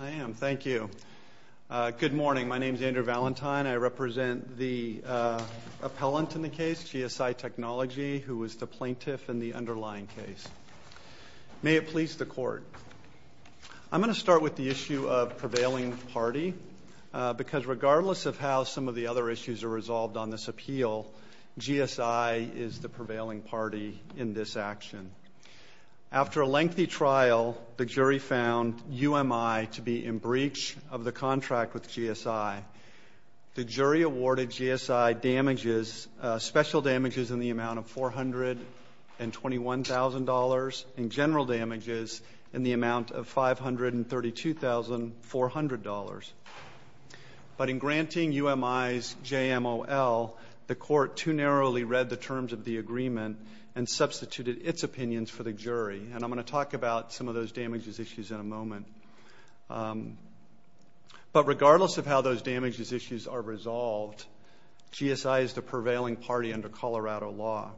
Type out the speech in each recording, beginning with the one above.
I am. Thank you. Good morning. My name is Andrew Valentine. I represent the appellant in the case, GSI Technology, who was the plaintiff in the underlying case. May it please the Court. I'm going to start with the issue of prevailing party, because regardless of how some of the other issues are resolved on this appeal, GSI is the prevailing party in this of the contract with GSI. The jury awarded GSI damages, special damages in the amount of $421,000, and general damages in the amount of $532,400. But in granting UMI's JMOL, the Court too narrowly read the terms of the agreement and substituted its opinions for the jury. And I'm going to talk about some of those damages issues in a moment. But regardless of how those damages issues are resolved, GSI is the prevailing party under Colorado law.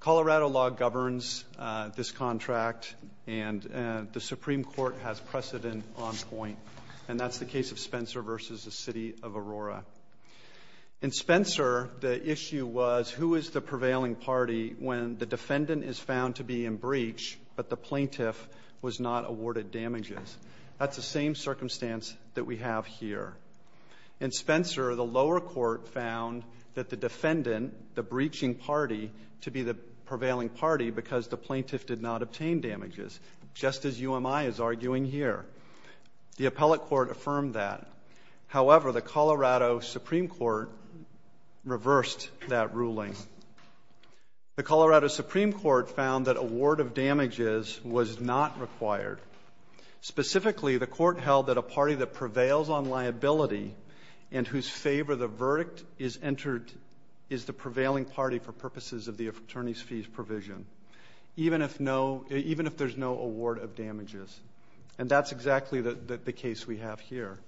Colorado law governs this contract, and the Supreme Court has precedent on point. And that's the case of Spencer v. The City of Aurora. In Spencer, the issue was, who is the prevailing party when the defendant is found to be in breach, but the plaintiff was not awarded damages? That's the same circumstance that we have here. In Spencer, the lower court found that the defendant, the breaching party, to be the prevailing party because the plaintiff did not obtain damages, just as UMI is arguing here. The Colorado Supreme Court reversed that ruling. The Colorado Supreme Court found that award of damages was not required. Specifically, the Court held that a party that prevails on liability and whose favor the verdict is entered is the prevailing party for purposes of the attorney's fees provision, even if there's no award of damages. And that's exactly the case we have here.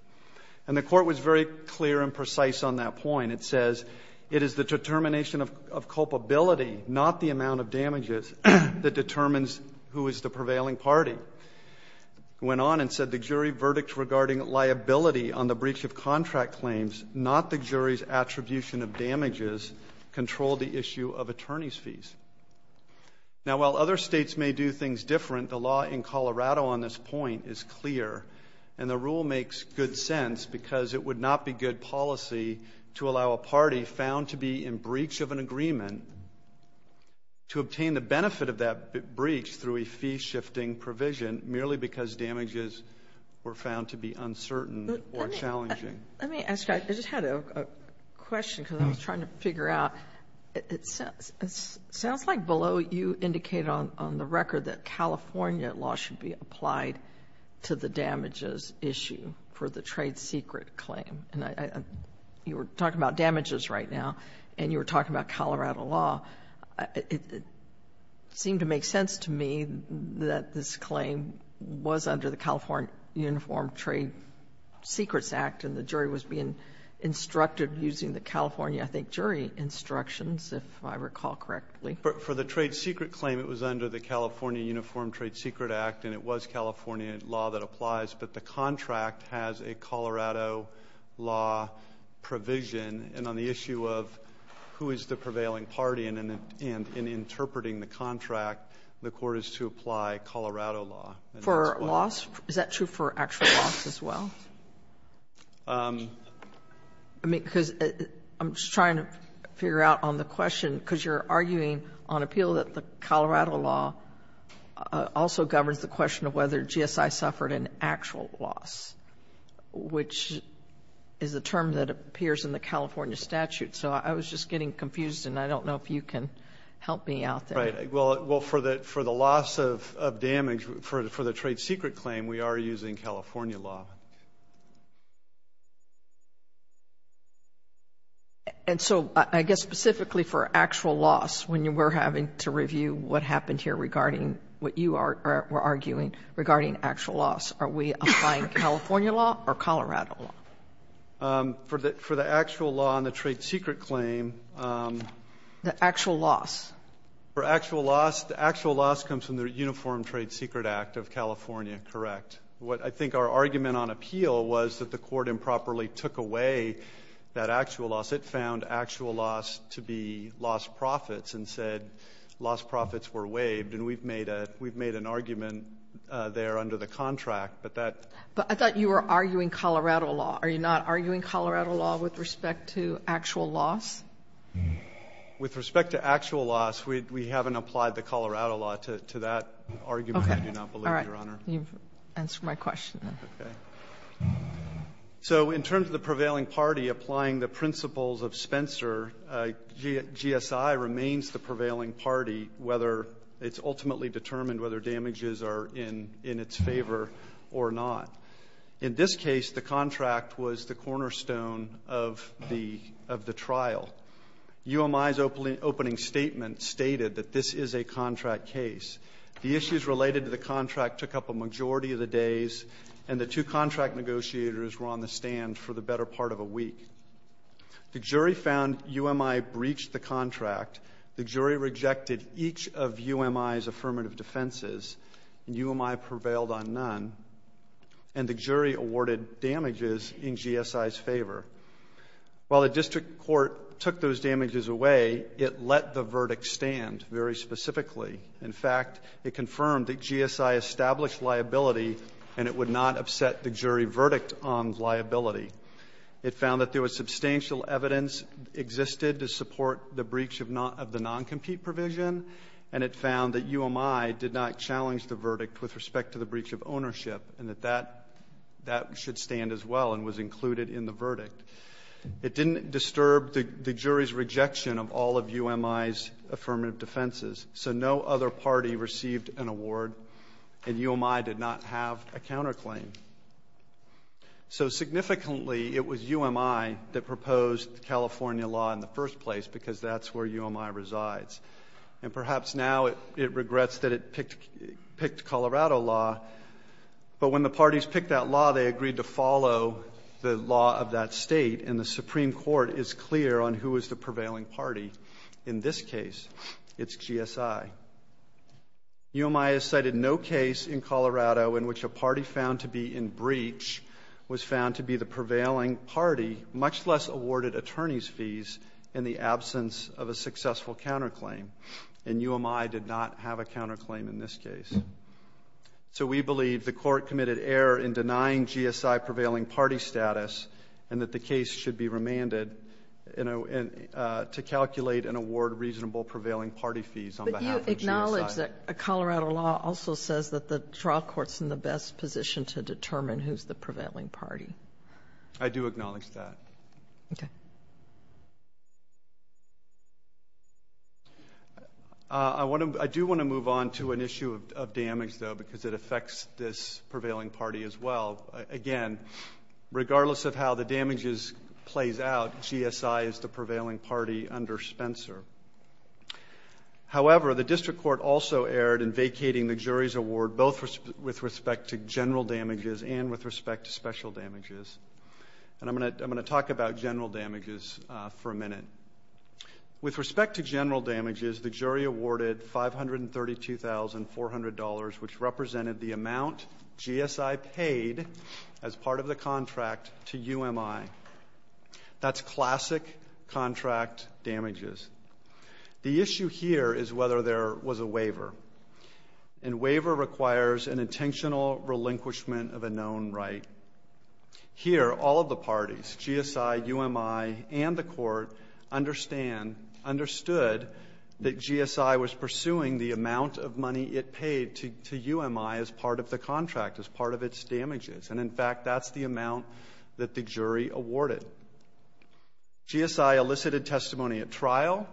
And the Court was very clear and precise on that point. It says, it is the determination of culpability, not the amount of damages, that determines who is the prevailing party. It went on and said the jury verdict regarding liability on the breach of contract claims, not the jury's attribution of damages, controlled the issue of attorney's fees. Now while other states may do things different, the law in Colorado on this point is clear. And the rule makes good sense because it would not be good policy to allow a party found to be in breach of an agreement to obtain the benefit of that breach through a fee-shifting provision merely because damages were found to be uncertain or challenging. Let me ask you, I just had a question because I was trying to figure out, it sounds like below you indicated on the record that California law should be applied to the damages issue for the trade secret claim. And you were talking about damages right now, and you were talking about Colorado law. It seemed to make sense to me that this claim was under the California Uniform Trade Secrets Act, and the jury was being instructed using the California, I think, jury instructions, if I recall correctly. But for the trade secret claim, it was under the California Uniform Trade Secret Act, and it was California law that applies, but the contract has a Colorado law provision. And on the issue of who is the prevailing party, and in interpreting the contract, the Court is to apply Colorado law. For loss? Is that true for actual loss as well? I mean, because I'm just trying to figure out on the question, because you're arguing on appeal that the Colorado law also governs the question of whether GSI suffered an actual loss, which is a term that appears in the California statute. So I was just getting confused, and I don't know if you can help me out there. Right. Well, for the loss of damage for the trade secret claim, we are using California law. And so, I guess, specifically for actual loss, when we're having to review what happened here regarding what you are arguing regarding actual loss, are we applying California law or Colorado law? For the actual law on the trade secret claim. The actual loss. For actual loss, the actual loss comes from the Uniform Trade Secret Act of California, correct? I think our argument on appeal was that the Court improperly took away that actual loss. It found actual loss to be lost profits, and said lost profits were waived. And we've made an argument there under the contract, but that But I thought you were arguing Colorado law. Are you not arguing Colorado law with respect to actual loss? With respect to actual loss, we haven't applied the Colorado law to that argument, I do not believe, Your Honor. You've answered my question. So in terms of the prevailing party applying the principles of Spencer, GSI remains the prevailing party, whether it's ultimately determined whether damages are in its favor or not. In this case, the contract was the cornerstone of the trial. UMI's opening statement stated that this is a contract case. The issues related to the contract took up a majority of the days, and the two contract negotiators were on the stand for the better part of a week. The jury found UMI breached the contract. The jury rejected each of UMI's affirmative defenses, and UMI prevailed on none. And the jury awarded damages in GSI's favor. While the district court took those damages away, it let the verdict stand very and it would not upset the jury verdict on liability. It found that there was substantial evidence existed to support the breach of the non-compete provision, and it found that UMI did not challenge the verdict with respect to the breach of ownership, and that that should stand as well and was included in the verdict. It didn't disturb the jury's rejection of all of UMI's affirmative defenses. So no other party received an award, and UMI did not have a counterclaim. So significantly, it was UMI that proposed the California law in the first place, because that's where UMI resides. And perhaps now it regrets that it picked Colorado law, but when the parties picked that law, they agreed to follow the law of that state, and the Supreme Court is clear on who is the prevailing party in this case. It's GSI. UMI has cited no case in Colorado in which a party found to be in breach was found to be the prevailing party, much less awarded attorney's fees in the absence of a successful counterclaim. And UMI did not have a counterclaim in this case. So we believe the court committed error in denying GSI prevailing party status and that the case should be remanded to calculate and award reasonable prevailing party fees on behalf of GSI. But you acknowledge that Colorado law also says that the trial court's in the best position to determine who's the prevailing party. I do acknowledge that. Okay. I do want to move on to an issue of damage, though, because it affects this prevailing party as well. Again, regardless of how the damages plays out, GSI is the prevailing party under Spencer. However, the district court also erred in vacating the jury's award, both with respect to general damages and with respect to special damages. And I'm going to talk about general damages for a minute. With respect to general damages, the jury awarded $532,400, which represented the amount GSI paid as part of the contract to UMI. That's classic contract damages. The issue here is whether there was a waiver. And waiver requires an intentional relinquishment of a known right. Here, all of the parties, GSI, UMI, and the court understand understood that GSI was pursuing the amount of money it paid to UMI as part of the contract, as part of its damages. And, in fact, that's the amount that the jury awarded. GSI elicited testimony at trial,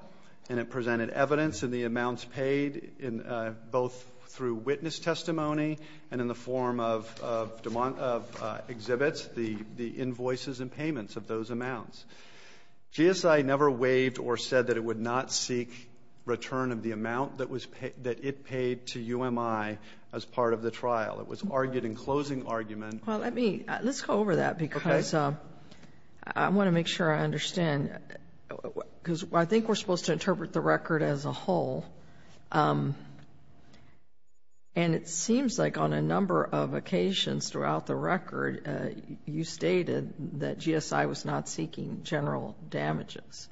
and it presented evidence in the amounts paid, both through witness testimony and in the form of exhibits, the invoices and payments of those amounts. GSI never waived or said that it would not seek return of the amount that it paid to UMI as part of the trial. It was argued in closing argument. Well, let's go over that because I want to make sure I understand. Because I think we're supposed to interpret the record as a whole. And it seems like on a number of occasions throughout the record, you stated that GSI was not seeking general damages.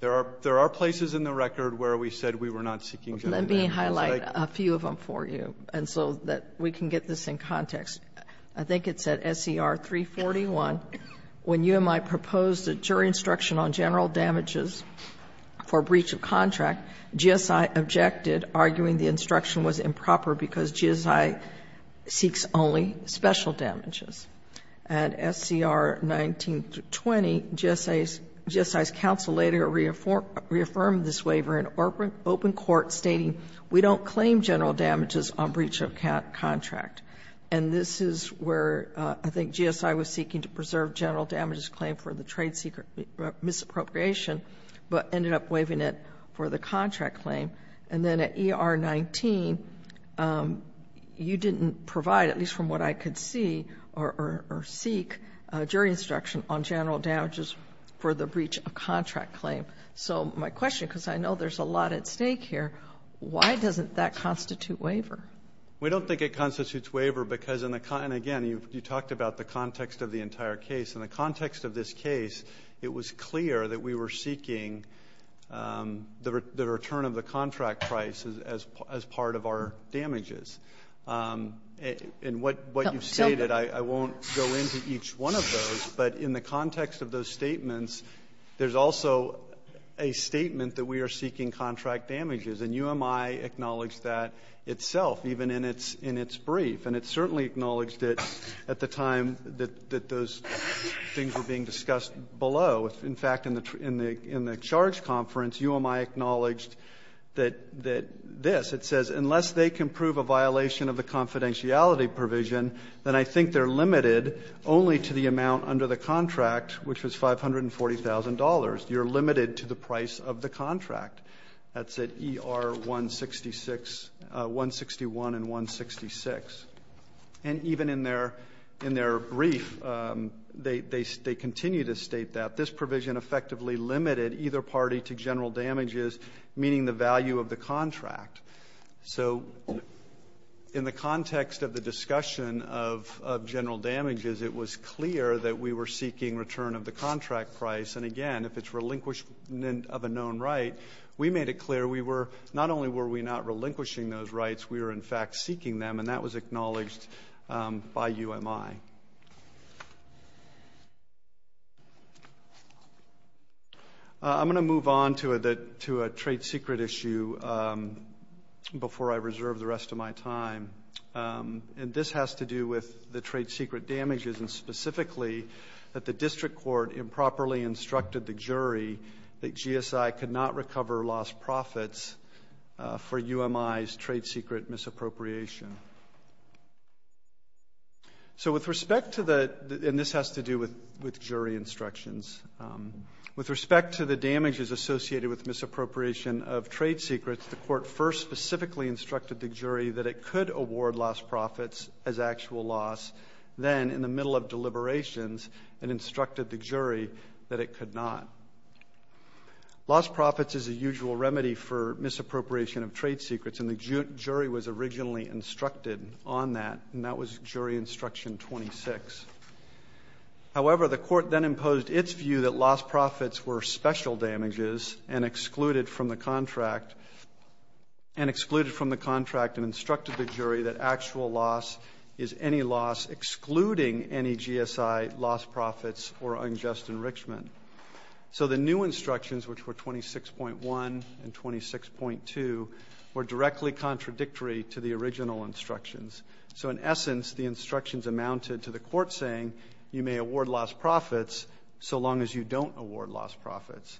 There are places in the record where we said we were not seeking general damages. Let me highlight a few of them for you, and so that we can get this in context. I think it said, S.E.R. 341, when UMI proposed a jury instruction on general damages for breach of contract, GSI objected, arguing the instruction was improper because GSI seeks only special damages. At S.E.R. 19-20, GSI's counsel later reaffirmed this waiver in open court, stating, we don't claim general damages on breach of contract. And this is where I think GSI was seeking to preserve general damages claim for the trade secret misappropriation, but ended up waiving it for the contract claim. And then at E.R. 19, you didn't provide, at least from what I could see or seek, a jury instruction on general damages for the breach of contract claim. So my question, because I know there's a lot at stake here, why doesn't that constitute waiver? We don't think it constitutes waiver because in the, and again, you talked about the context of the entire case. In the context of this case, it was clear that we as part of our damages. And what you've stated, I won't go into each one of those, but in the context of those statements, there's also a statement that we are seeking contract damages. And UMI acknowledged that itself, even in its brief. And it certainly acknowledged it at the time that those things were being discussed below. In fact, in the charge conference, UMI acknowledged that this, it says, unless they can prove a violation of the confidentiality provision, then I think they're limited only to the amount under the contract, which was $540,000. You're limited to the price of the contract. That's at E.R. 161 and 166. And even in their brief, they continue to state that. This provision effectively limited either party to general damages, meaning the value of the contract. So in the context of the discussion of general damages, it was clear that we were seeking return of the contract price. And again, if it's relinquishment of a known right, we made it clear we were, not only were we not relinquishing those rights, we were, in fact, seeking them. And that was acknowledged by UMI. I'm going to move on to a trade secret issue before I reserve the rest of my time. And this has to do with the trade secret damages, and specifically that the district court improperly trade secret misappropriation. And this has to do with jury instructions. With respect to the damages associated with misappropriation of trade secrets, the court first specifically instructed the jury that it could award lost profits as actual loss. Then, in the middle of deliberations, it instructed the jury that it could not. Lost profits is a usual remedy for misappropriation of trade secrets, and the jury was originally instructed on that. And that was jury instruction 26. However, the court then imposed its view that lost profits were special damages and excluded from the contract and instructed the jury that actual loss is any loss excluding any GSI lost profits or unjust enrichment. So the new instructions, which were 26.1 and 26.2, were directly contradictory to the original instructions. So, in essence, the instructions amounted to the court saying you may award lost profits so long as you don't award lost profits.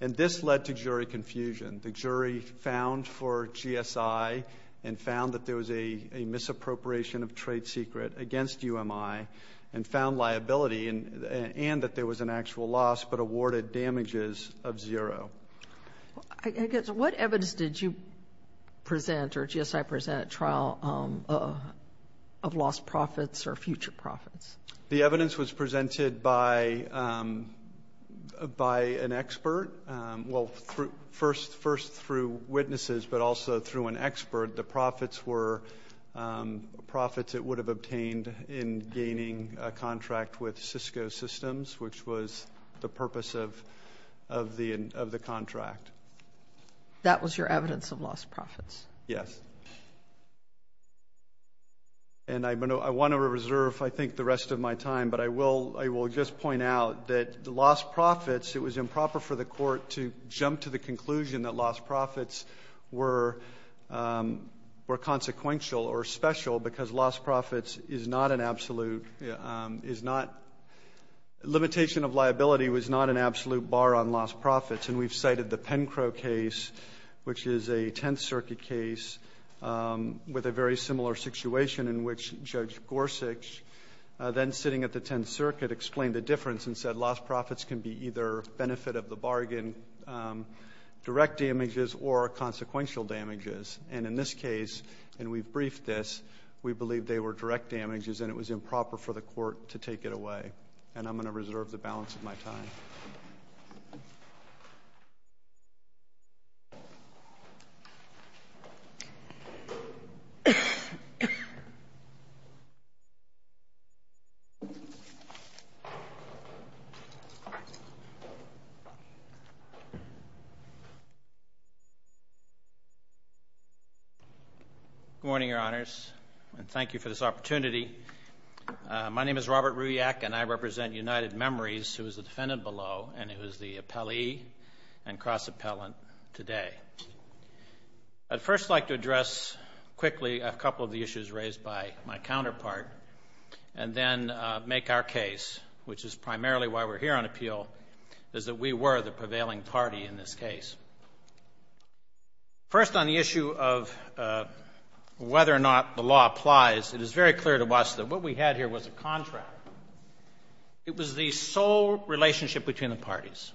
And this led to jury confusion. The jury found for GSI and found that there was a misappropriation of trade secret against UMI and found liability and that there was an actual loss, but awarded damages of zero. What evidence did you present or GSI present at trial of lost profits or future profits? The evidence was presented by an expert. Well, first through witnesses, but also through an expert. The profits were profits that would have obtained in gaining a contract with Cisco Systems, which was the purpose of the contract. That was your evidence of lost profits? Yes. And I want to reserve, I think, the rest of my time, but I will just point out that lost profits, it was improper for the court to jump to the conclusion that were consequential or special because lost profits is not an absolute, is not, limitation of liability was not an absolute bar on lost profits. And we've cited the Pencro case, which is a Tenth Circuit case with a very similar situation in which Judge Gorsuch, then sitting at the Tenth Circuit, explained the difference and said lost profits can be either benefit of the bargain, direct damages or consequential damages. And in this case, and we've briefed this, we believe they were direct damages and it was improper for the Good morning, Your Honors, and thank you for this opportunity. My name is Robert Ruyak and I represent United Memories, who is the defendant below and who is the appellee and cross-appellant today. I'd first like to address quickly a couple of the issues raised by my is that we were the prevailing party in this case. First on the issue of whether or not the law applies, it is very clear to us that what we had here was a contract. It was the sole relationship between the parties.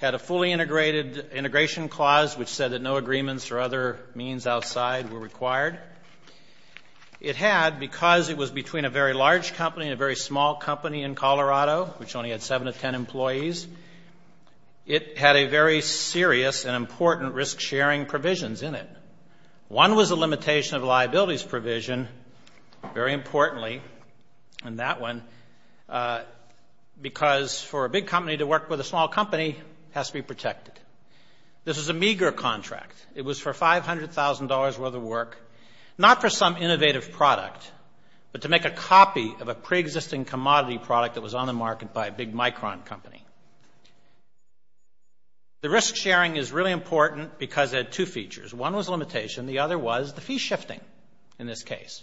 It had a fully integrated integration clause, which said that no agreements or other means outside were required. It had, because it was between a very large company and a very small company in Colorado, which only had 7 to 10 employees, it had a very serious and important risk-sharing provisions in it. One was a limitation of liabilities provision, very importantly, and that one, because for a big company to work with a small company has to be protected. This was a meager contract. It was for $500,000 worth of work, not for some innovative product, but to make a copy of a pre-existing commodity product that was on the market by a big Micron company. The risk-sharing is really important because it had two features. One was limitation. The other was the fee shifting in this case,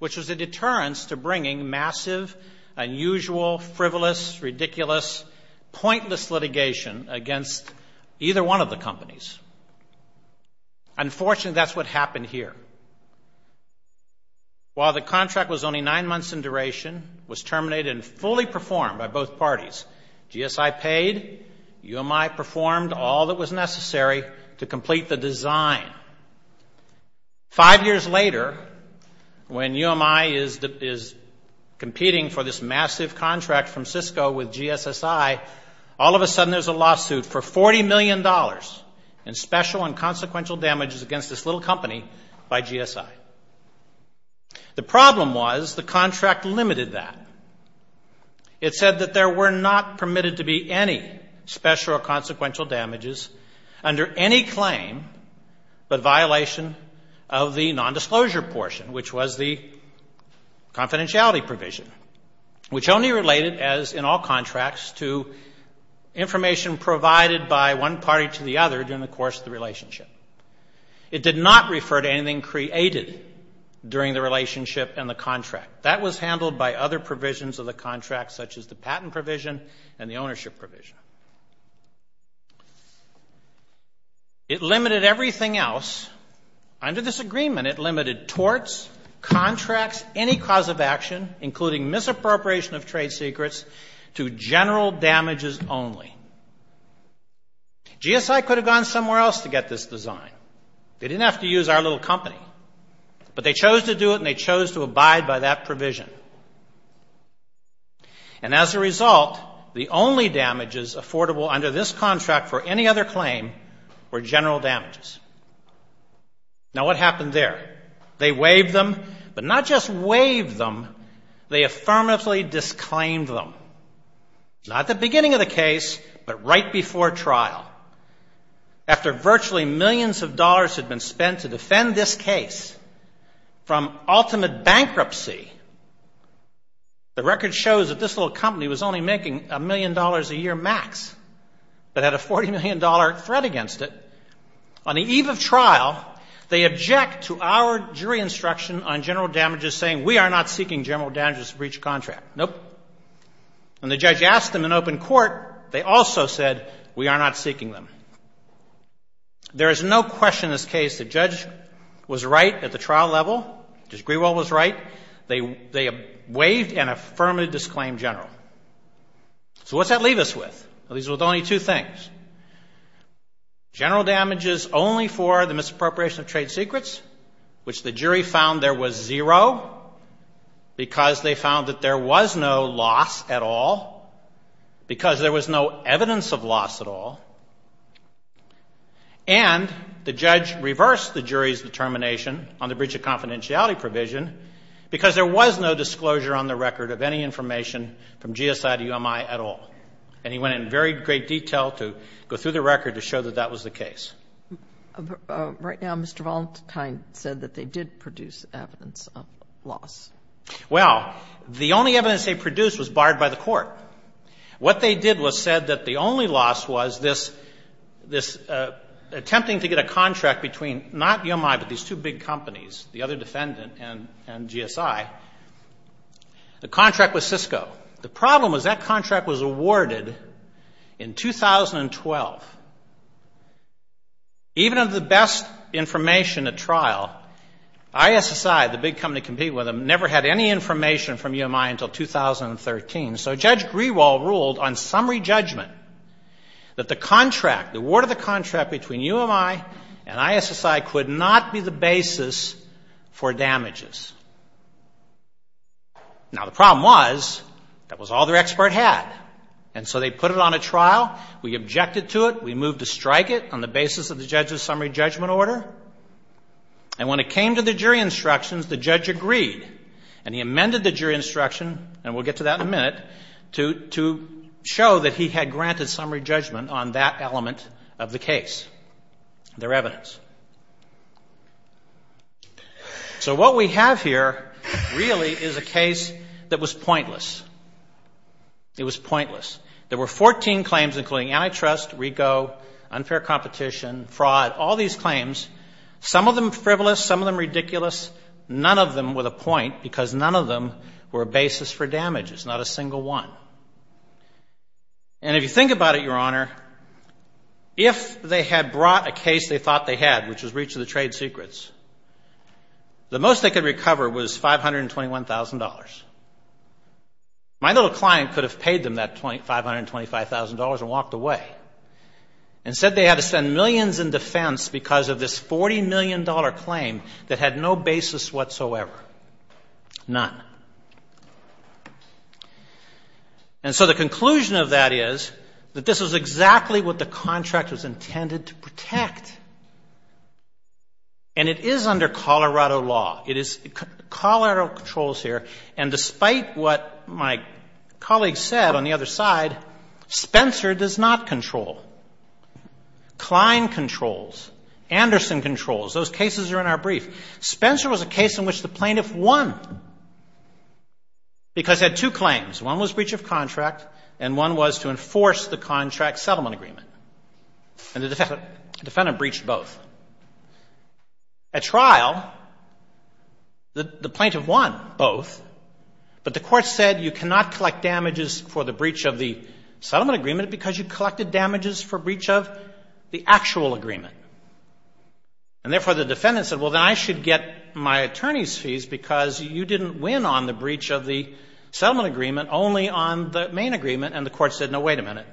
which was a deterrence to bringing massive, unusual, frivolous, ridiculous, pointless litigation against either one of the companies. Unfortunately, that's what happened here. While the contract was only nine months in duration, it was terminated and fully performed by both parties. GSI paid. UMI performed all that was necessary to complete the design. Five years later, when UMI is competing for this massive contract from Cisco with GSSI, all of a sudden there's a lawsuit for $40 million in special and consequential damages against this little company by GSI. The problem was the contract limited that. It said that there were not permitted to be any special or consequential damages under any claim but violation of the nondisclosure portion, which was the confidentiality provision, which only related, as in all contracts, to information provided by one party to the other during the course of the relationship. It did not refer to anything created during the relationship and the contract. That was handled by other provisions of the contract, such as the patent provision and the ownership provision. It limited everything else. Under this agreement, it limited torts, contracts, any cause of action, including misappropriation of trade secrets, to general damages only. GSI could have gone somewhere else to get this design. They didn't have to use our little company. But they chose to do it and they chose to abide by that provision. And as a result, the only damages affordable under this contract for any other claim were general damages. Now, what happened there? They waived them, but not just waived them, they affirmatively disclaimed them, not at the beginning of the case, but right before trial. After virtually millions of dollars had been spent to defend this case from ultimate bankruptcy, the record shows that this little company was only making a million dollars a year max, but had a $40 million threat against it. On the eve of trial, they object to our jury instruction on general damages saying we are not seeking general damages breach contract. Nope. When the judge asked them in open court, they also said we are not seeking them. There is no question in this case the judge was right at the trial level. Judge Grewell was right. They waived and affirmatively disclaimed general. So what's that leave us with? Well, these are only two things. General damages only for the misappropriation of trade secrets, which the jury found there was zero, because they found that there was no loss at all, because there was no evidence of loss at all, and the judge reversed the jury's determination on the breach of confidentiality provision because there was no disclosure on the record of any information from GSI to UMI at all. And he went in very great detail to go through the record to show that that was the case. Right now, Mr. Valentine said that they did produce evidence of loss. Well, the only evidence they produced was barred by the court. What they did was said that the only loss was this attempting to get a contract between not UMI, but these two big companies, the other defendant and GSI, the contract with Cisco. The problem was that contract was awarded in 2012. Even of the best information at trial, ISSI, the big company competing with them, never had any information from UMI until 2013. So Judge Grewell ruled on summary judgment that the contract, the award of the contract between UMI and ISSI could not be the basis for damages. Now, the problem was that was all their expertise had. And so they put it on a trial. We objected to it. We moved to strike it on the basis of the judge's summary judgment order. And when it came to the jury instructions, the judge agreed. And he amended the jury instruction, and we'll get to that in a minute, to show that he had granted summary judgment on that element of the case, their evidence. So what we have here really is a case that was pointless. It was pointless. There were 14 claims, including antitrust, RICO, unfair competition, fraud, all these claims, some of them frivolous, some of them ridiculous, none of them with a point, because none of them were a basis for damages, not a single one. And if you think about it, Your Honor, if they had brought a case they thought they had, which was breach of the trade secrets, the most they could recover was $521,000. My little client could have paid them that $525,000 and walked away. Instead, they had to spend millions in defense because of this $40 million claim that had no basis whatsoever, none. And so the conclusion of that is that this was exactly what the contract was intended to protect. And it is under Colorado law. It is Colorado controls here, and despite what my colleague said on the other side, Spencer does not control. Klein controls. Anderson controls. Those cases are in our brief. Spencer was a case in which the plaintiff won because he had two claims. One was breach of contract, and one was to enforce the contract settlement agreement. And the defendant breached both. At trial, the plaintiff won both, but the court said you cannot collect damages for the breach of the settlement agreement because you collected damages for breach of the actual agreement. And therefore, the defendant said, well, then I should get my attorney's fees because you didn't win on the breach of the settlement agreement, only on the main agreement. And the court said, no, wait a minute.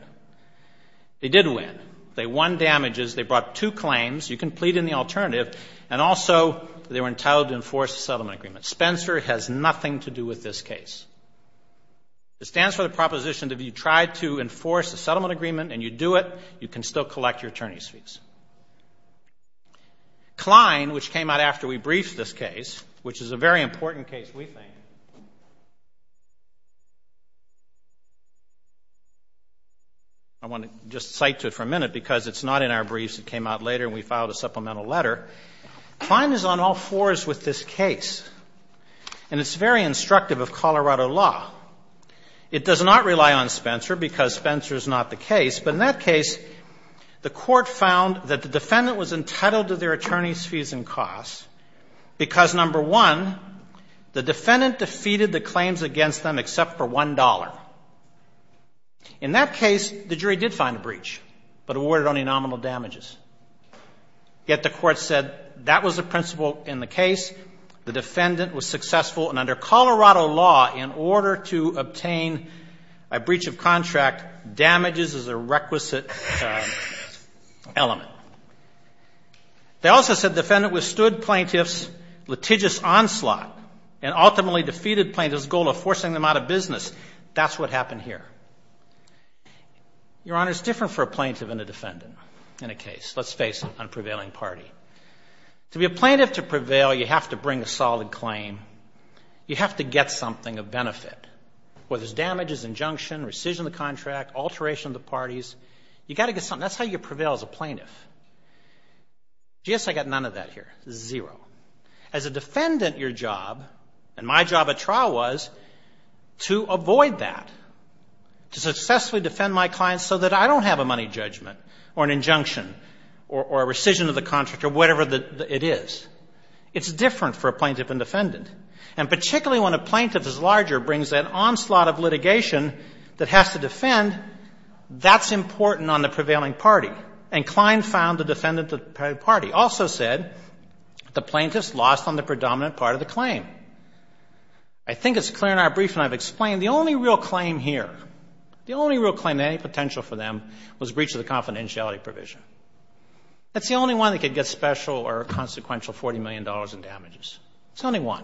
They did win. They won damages. They brought two claims. You can plead in the alternative. And also, they were entitled to enforce the settlement agreement. Spencer has nothing to do with this case. It stands for the proposition that if you try to enforce the settlement agreement and you do it, you can still collect your attorney's fees. Klein, which came out after we briefed this case, which is a very important case, we think. I want to just cite to it for a minute because it's not in our briefs. It came out later and we filed a supplemental letter. Klein is on all fours with this case. And it's very on Spencer because Spencer is not the case. But in that case, the court found that the defendant was entitled to their attorney's fees and costs because, number one, the defendant defeated the claims against them except for $1. In that case, the jury did find a breach, but awarded only nominal damages. Yet the court said that was the principle in the case. The defendant was successful. And under Colorado law, in order to obtain a breach of contract, damages is a requisite element. They also said the defendant withstood plaintiff's litigious onslaught and ultimately defeated plaintiff's goal of forcing them out of business. That's what happened here. Your Honor, it's different for a plaintiff and a defendant in a case. Let's face it, I'm a prevailing party. To be a plaintiff to prevail, you have to bring a solid claim. You have to get something of benefit. Whether it's damages, injunction, rescission of the contract, alteration of the parties, you've got to get something. That's how you prevail as a plaintiff. GSA got none of that here. Zero. As a defendant, your job and my job at trial was to avoid that, to successfully defend my clients so that I don't have a money judgment or an injunction or a rescission of the contract or whatever it is. It's different for a plaintiff and defendant. And particularly when a plaintiff is larger, brings that onslaught of litigation that has to defend, that's important on the prevailing party. And Klein found the defendant to the prevailing party. Also said the plaintiff's lost on the predominant part of the claim. I think it's clear in our claim here, the only real claim of any potential for them was breach of the confidentiality provision. That's the only one that could get special or consequential $40 million in damages. It's only one.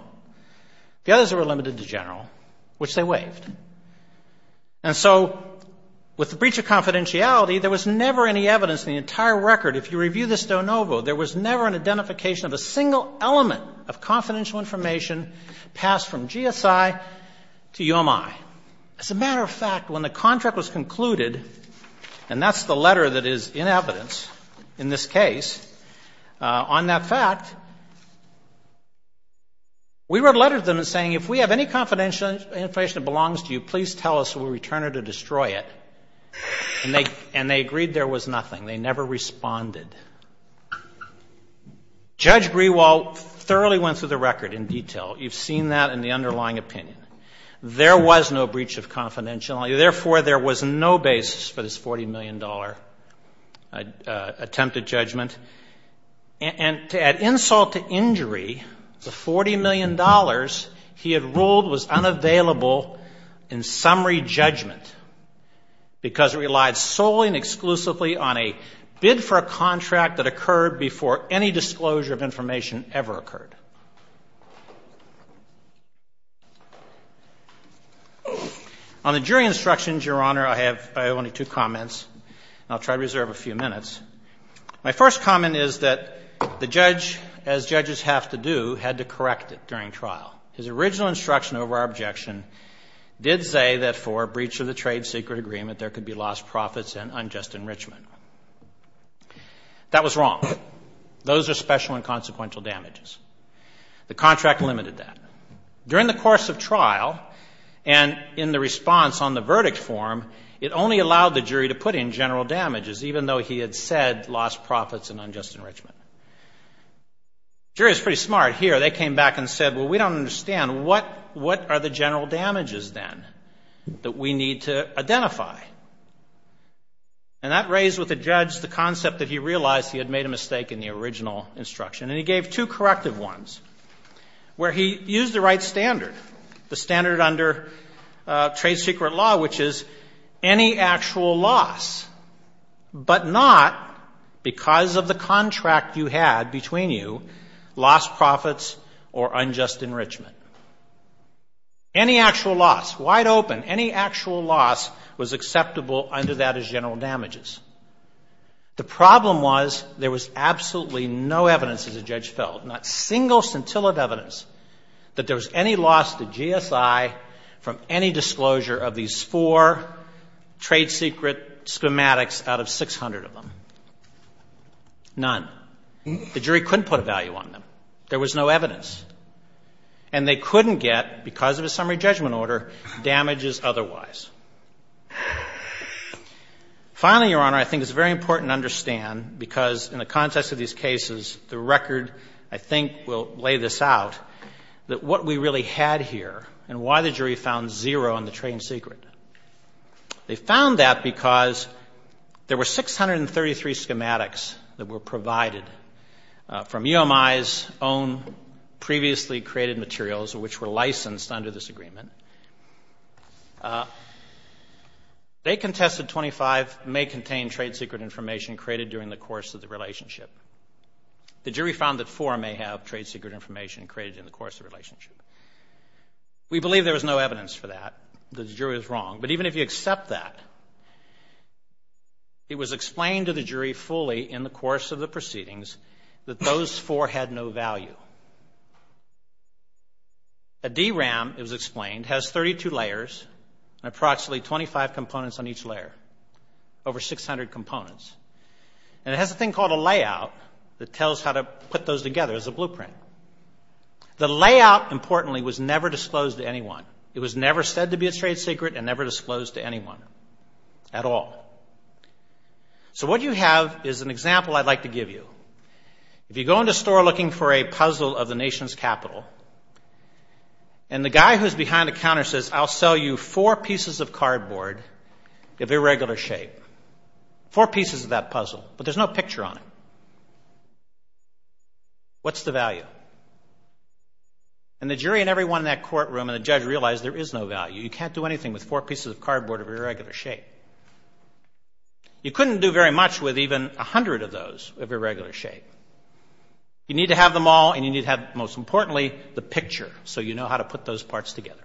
The others were limited to general, which they waived. And so with the breach of confidentiality, there was never any evidence in the entire record, if you review this de novo, there was never an identification of a single element of confidential information passed from GSI to UMI. As a matter of fact, when the contract was concluded, and that's the letter that is in evidence in this case, on that fact, we wrote a letter to them saying if we have any confidential information that belongs to you, please tell us and we'll return it or destroy it. And they agreed there was nothing. They never responded. Judge Grewal thoroughly went through the record in detail. You've seen that in the underlying opinion. There was no breach of confidentiality. Therefore, there was no basis for this $40 million attempted judgment. And to add insult to injury, the $40 million he had ruled was unavailable in summary judgment because it relied solely and exclusively on a bid for a contract that occurred before any disclosure of information ever occurred. On the jury instructions, Your Honor, I have only two comments, and I'll try to reserve a few minutes. My first comment is that the judge, as judges have to do, had to correct it during trial. His original instruction over our objection did say that for a breach of the trade secret agreement, there could be lost profits and unjust enrichment. That was wrong. Those are special and consequential damages. The contract limited that. During the course of trial and in the response on the verdict form, it only allowed the jury to put in general damages, even though he had said lost profits and unjust enrichment. The jury was pretty smart. Here, they came back and said, well, we don't understand. What are the general damages, then, that we need to identify? And that raised with the judge the concept that he realized he had made a mistake in the original instruction. And he gave two corrective ones where he used the right standard, the standard under trade secret law, which is any actual loss, but not because of the contract you had between you, lost profits or unjust enrichment. Any actual loss, wide open, any actual loss was acceptable under that as general damages. The problem was there was absolutely no evidence, as the judge felt, not single scintillant evidence, that there was any loss to GSI from any disclosure of these four trade secret schematics out of 600 of them. None. The jury couldn't put a value on them. There was no evidence. And they couldn't get, because of a summary judgment order, damages otherwise. Finally, Your Honor, I think it's very important to understand, because in the context of these cases, the record, I think, will lay this out, that what we really had here and why the jury found zero on the trade secret, they found that because there were 633 schematics that were provided from UMI's own previously created materials, which were licensed under this agreement, they contested 25 may contain trade secret information created during the course of the relationship. The jury found that four may have trade secret information created in the course of the relationship. We believe there was no evidence for that. The jury was wrong. But even if you accept that, it was explained to the jury fully in the course of the proceedings that those four had no value. A DRAM, it was explained, has 32 layers and approximately 25 components on each layer, over 600 components. And it has a thing called a layout that tells how to put those together as a blueprint. The layout, importantly, was never disclosed to anyone. It was never said to be a trade secret and never disclosed to anyone at all. So what you have is an example I'd like to give you. If you go into a store looking for a puzzle of the nation's capital, and the guy who's behind the counter says, I'll sell you four pieces of cardboard of irregular shape, four pieces of that puzzle, but there's no picture on it, what's the value? And the jury and everyone in that courtroom and the jury says, no, you can't do anything with four pieces of cardboard of irregular shape. You couldn't do very much with even a hundred of those of irregular shape. You need to have them all and you need to have, most importantly, the picture so you know how to put those parts together.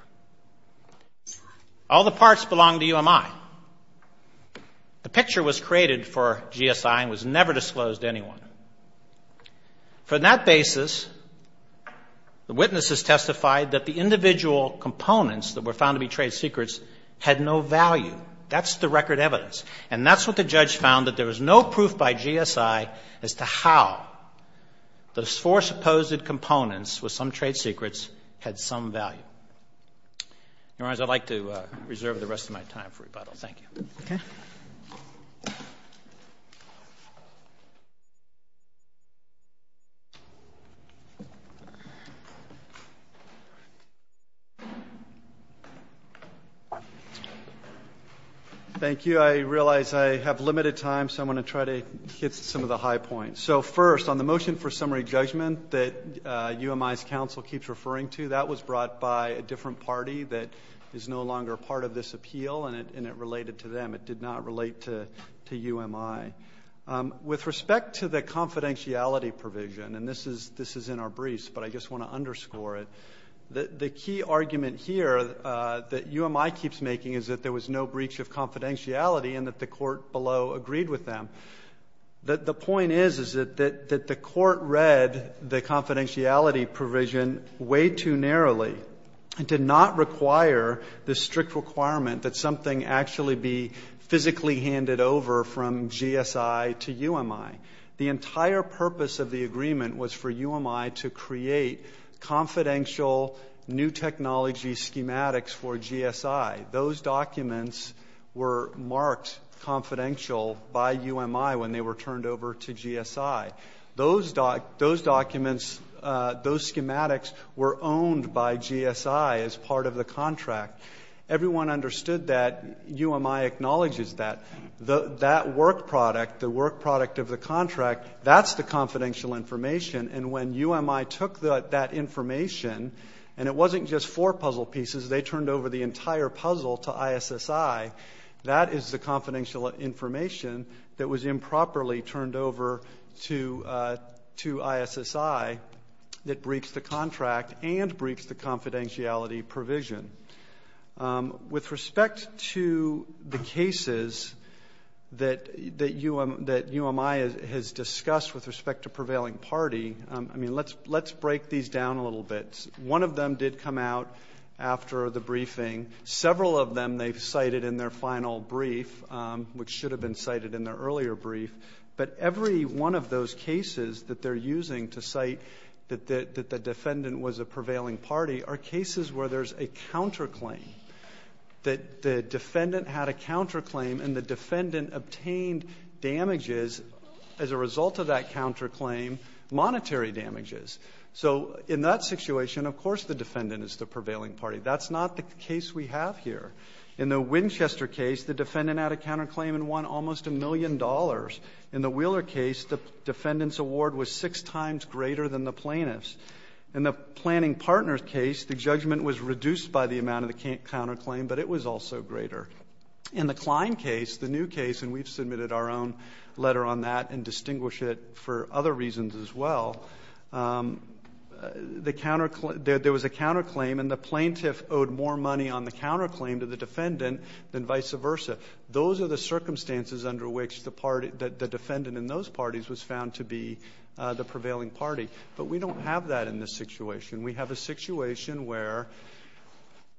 All the parts belong to UMI. The picture was created for GSI and was never disclosed to anyone. From that basis, the witnesses testified that the individual components that were found to be trade secrets had no value. That's the record evidence. And that's what the judge found, that there was no proof by GSI as to how those four supposed components with some trade secrets had some value. Your Honor, I'd like to reserve the rest of my time for rebuttal. Thank you. Thank you. I realize I have limited time, so I'm going to try to hit some of the high points. So first, on the motion for summary judgment that UMI's counsel keeps referring to, that was brought by a different party that is no longer part of this appeal and it related to them. It did not relate to UMI. With respect to the confidentiality provision, and this is in our briefs, but I just want to underscore it, the key argument here that UMI keeps making is that there was no breach of confidentiality and that the court below agreed with them. The point is that the court read the confidentiality provision way too narrowly and did not require the strict requirement that something actually be physically handed over from GSI to UMI. The entire purpose of the agreement was for UMI to create confidential new technology schematics for GSI. Those documents were marked confidential by UMI when they were turned over to GSI. Those documents, those schematics were owned by GSI as part of the contract. Everyone understood that. UMI acknowledges that. That work product, the work product of the contract, that's the confidential information and when UMI took that information, and it wasn't just four puzzle pieces, they turned over the entire work product, it was literally turned over to ISSI that breached the contract and breached the confidentiality provision. With respect to the cases that UMI has discussed with respect to prevailing party, I mean, let's break these down a little bit. One of them did come out after the briefing. Several of them they've cited in their final brief, which should have been cited in their earlier brief, but every one of those cases that they're using to cite that the defendant was a prevailing party are cases where there's a counterclaim, that the defendant had a counterclaim and the defendant obtained damages as a result of that counterclaim monetary damages. So in that situation, of course the defendant is the prevailing party. That's not the case we have here. In the Winchester case, the defendant had a counterclaim and won almost a million dollars. In the Wheeler case, the defendant's award was six times greater than the plaintiff's. In the planning partner's case, the judgment was reduced by the amount of the counterclaim, but it was also greater. In the Klein case, the new case, and we've submitted our own letter on that and distinguish it for other reasons as well, there was a counterclaim and the plaintiff owed more money on the counterclaim to the circumstances under which the defendant in those parties was found to be the prevailing party. But we don't have that in this situation. We have a situation where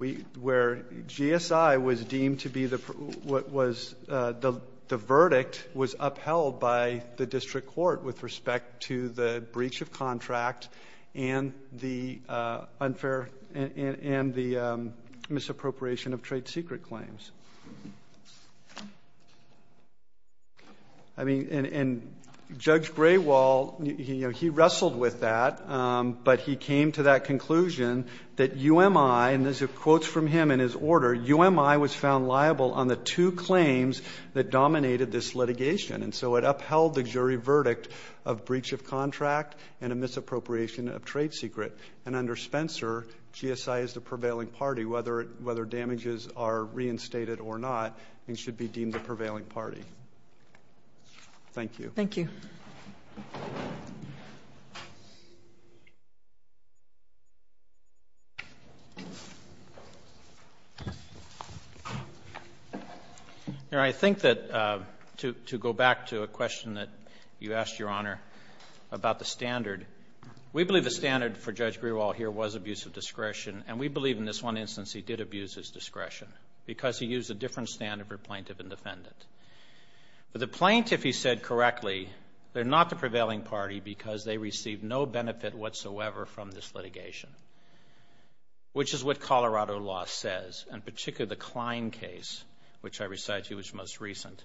GSI was deemed to be the, the verdict was upheld by the district court with respect to the breach of contract and the unfair, and the misappropriation of trade secret claims. I mean, and, and Judge Graywall, you know, he wrestled with that. But he came to that conclusion that UMI, and there's quotes from him in his order, UMI was found liable on the two claims that dominated this litigation. And so it upheld the jury verdict of breach of contract and a misappropriation of trade secret. And under Spencer, GSI is the prevailing party. Thank you. Thank you. Your Honor, I think that to, to go back to a question that you asked, Your Honor, about the standard, we believe the standard for Judge Graywall here was abuse of discretion. And we believe in this one instance he did abuse his discretion because he used a different standard for plaintiff and defendant. But the plaintiff, he said correctly, they're not the prevailing party because they received no benefit whatsoever from this litigation, which is what Colorado law says, and particularly the Klein case, which I recited to you was most recent.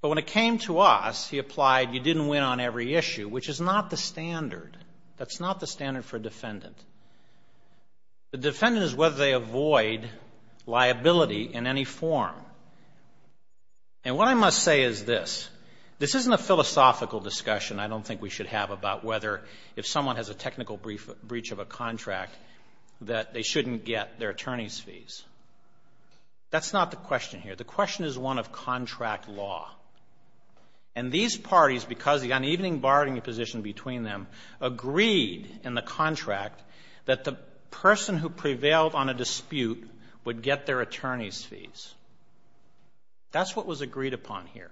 But when it came to us, he applied, you didn't win on every issue, which is not the standard. That's not the standard for a defendant. The defendant is whether they avoid liability in any form. And what I must say is this. This isn't a philosophical discussion I don't think we should have about whether, if someone has a technical breach of a contract, that they shouldn't get their attorney's fees. That's not the question here. The question is one of contract law. And these parties, because the unevening bargaining position between them agreed in the contract that the person who prevailed on a dispute would get their attorney's fees. That's what was agreed upon here.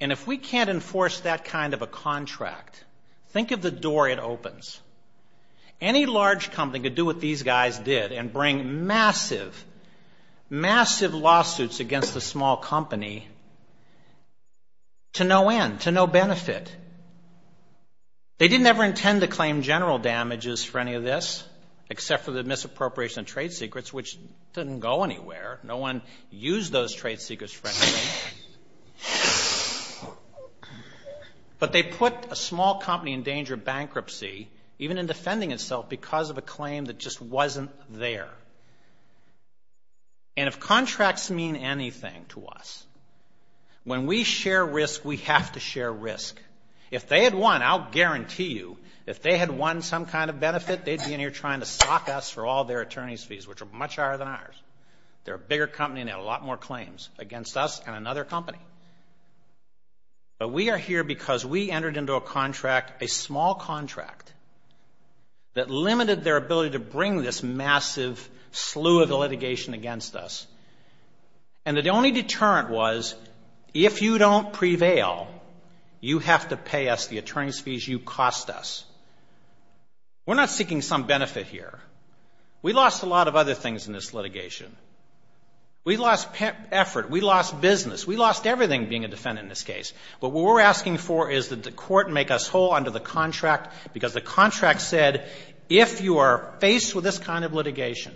And if we can't enforce that kind of a contract, think of the door it opens. Any large company could do what these guys did and bring massive, massive lawsuits against a small company to no end, to no benefit. They didn't ever intend to claim general damages for any of this, except for the misappropriation of trade secrets, which didn't go anywhere. No one used those trade secrets for anything. But they put a small company in danger of bankruptcy, even in defending itself because of a claim that just wasn't there. And if contracts mean anything to us, when we share risk, we have to share risk. If they had won, I'll guarantee you, if they had won some kind of benefit, they'd be in here trying to sock us for all their attorney's fees, which are much higher than ours. They're a bigger company and they have a lot more claims against us and another company. But we are here because we entered into a contract, a small contract, that limited their ability to bring this massive slew of litigation against us. And the only deterrent was, if you don't prevail, you have to pay us the attorney's fees you cost us. We're not seeking some benefit here. We lost a lot of other things in this litigation. We lost effort. We lost business. We lost everything being a defendant in this case. But what we're asking for is that the court make us whole under the contract because the contract said, if you are faced with this kind of litigation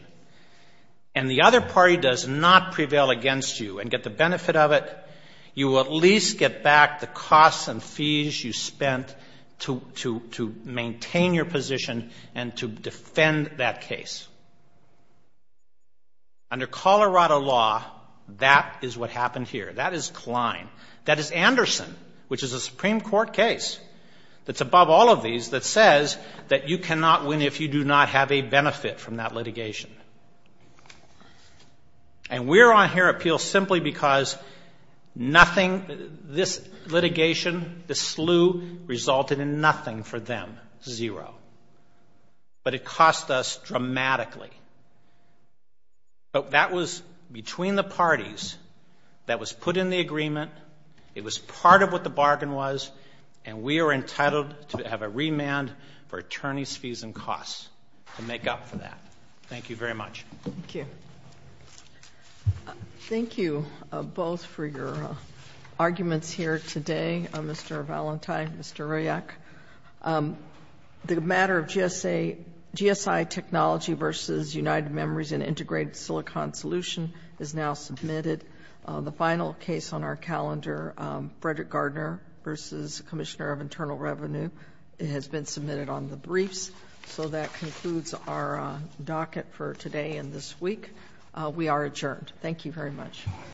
and the other party does not prevail against you and get the benefit of it, you will at least get back the costs and fees you spent to maintain your position and to defend that case. Under Colorado law, that is what happened here. That is Klein. That is Anderson, which is a Supreme Court case that's above all of these that says that you cannot win if you do not have a benefit from that litigation. And we're on here at Peel simply because nothing, this litigation, this slew resulted in nothing for them, zero. But it cost us dramatically. But that was between the parties that was put in the agreement. It was part of what the bargain was. And we are entitled to have a remand for attorney's fees and costs to make up for that. Thank you very much. Thank you. Thank you both for your arguments here today, Mr. Valentine, Mr. Rayak. The matter of GSI Technology v. United Memories and Integrated Silicon Solution is now submitted. The final case on our calendar, Frederick Gardner v. Commissioner of Internal Revenue, has been submitted on the briefs. So that concludes our docket for today and this week. We are adjourned. Thank you very much.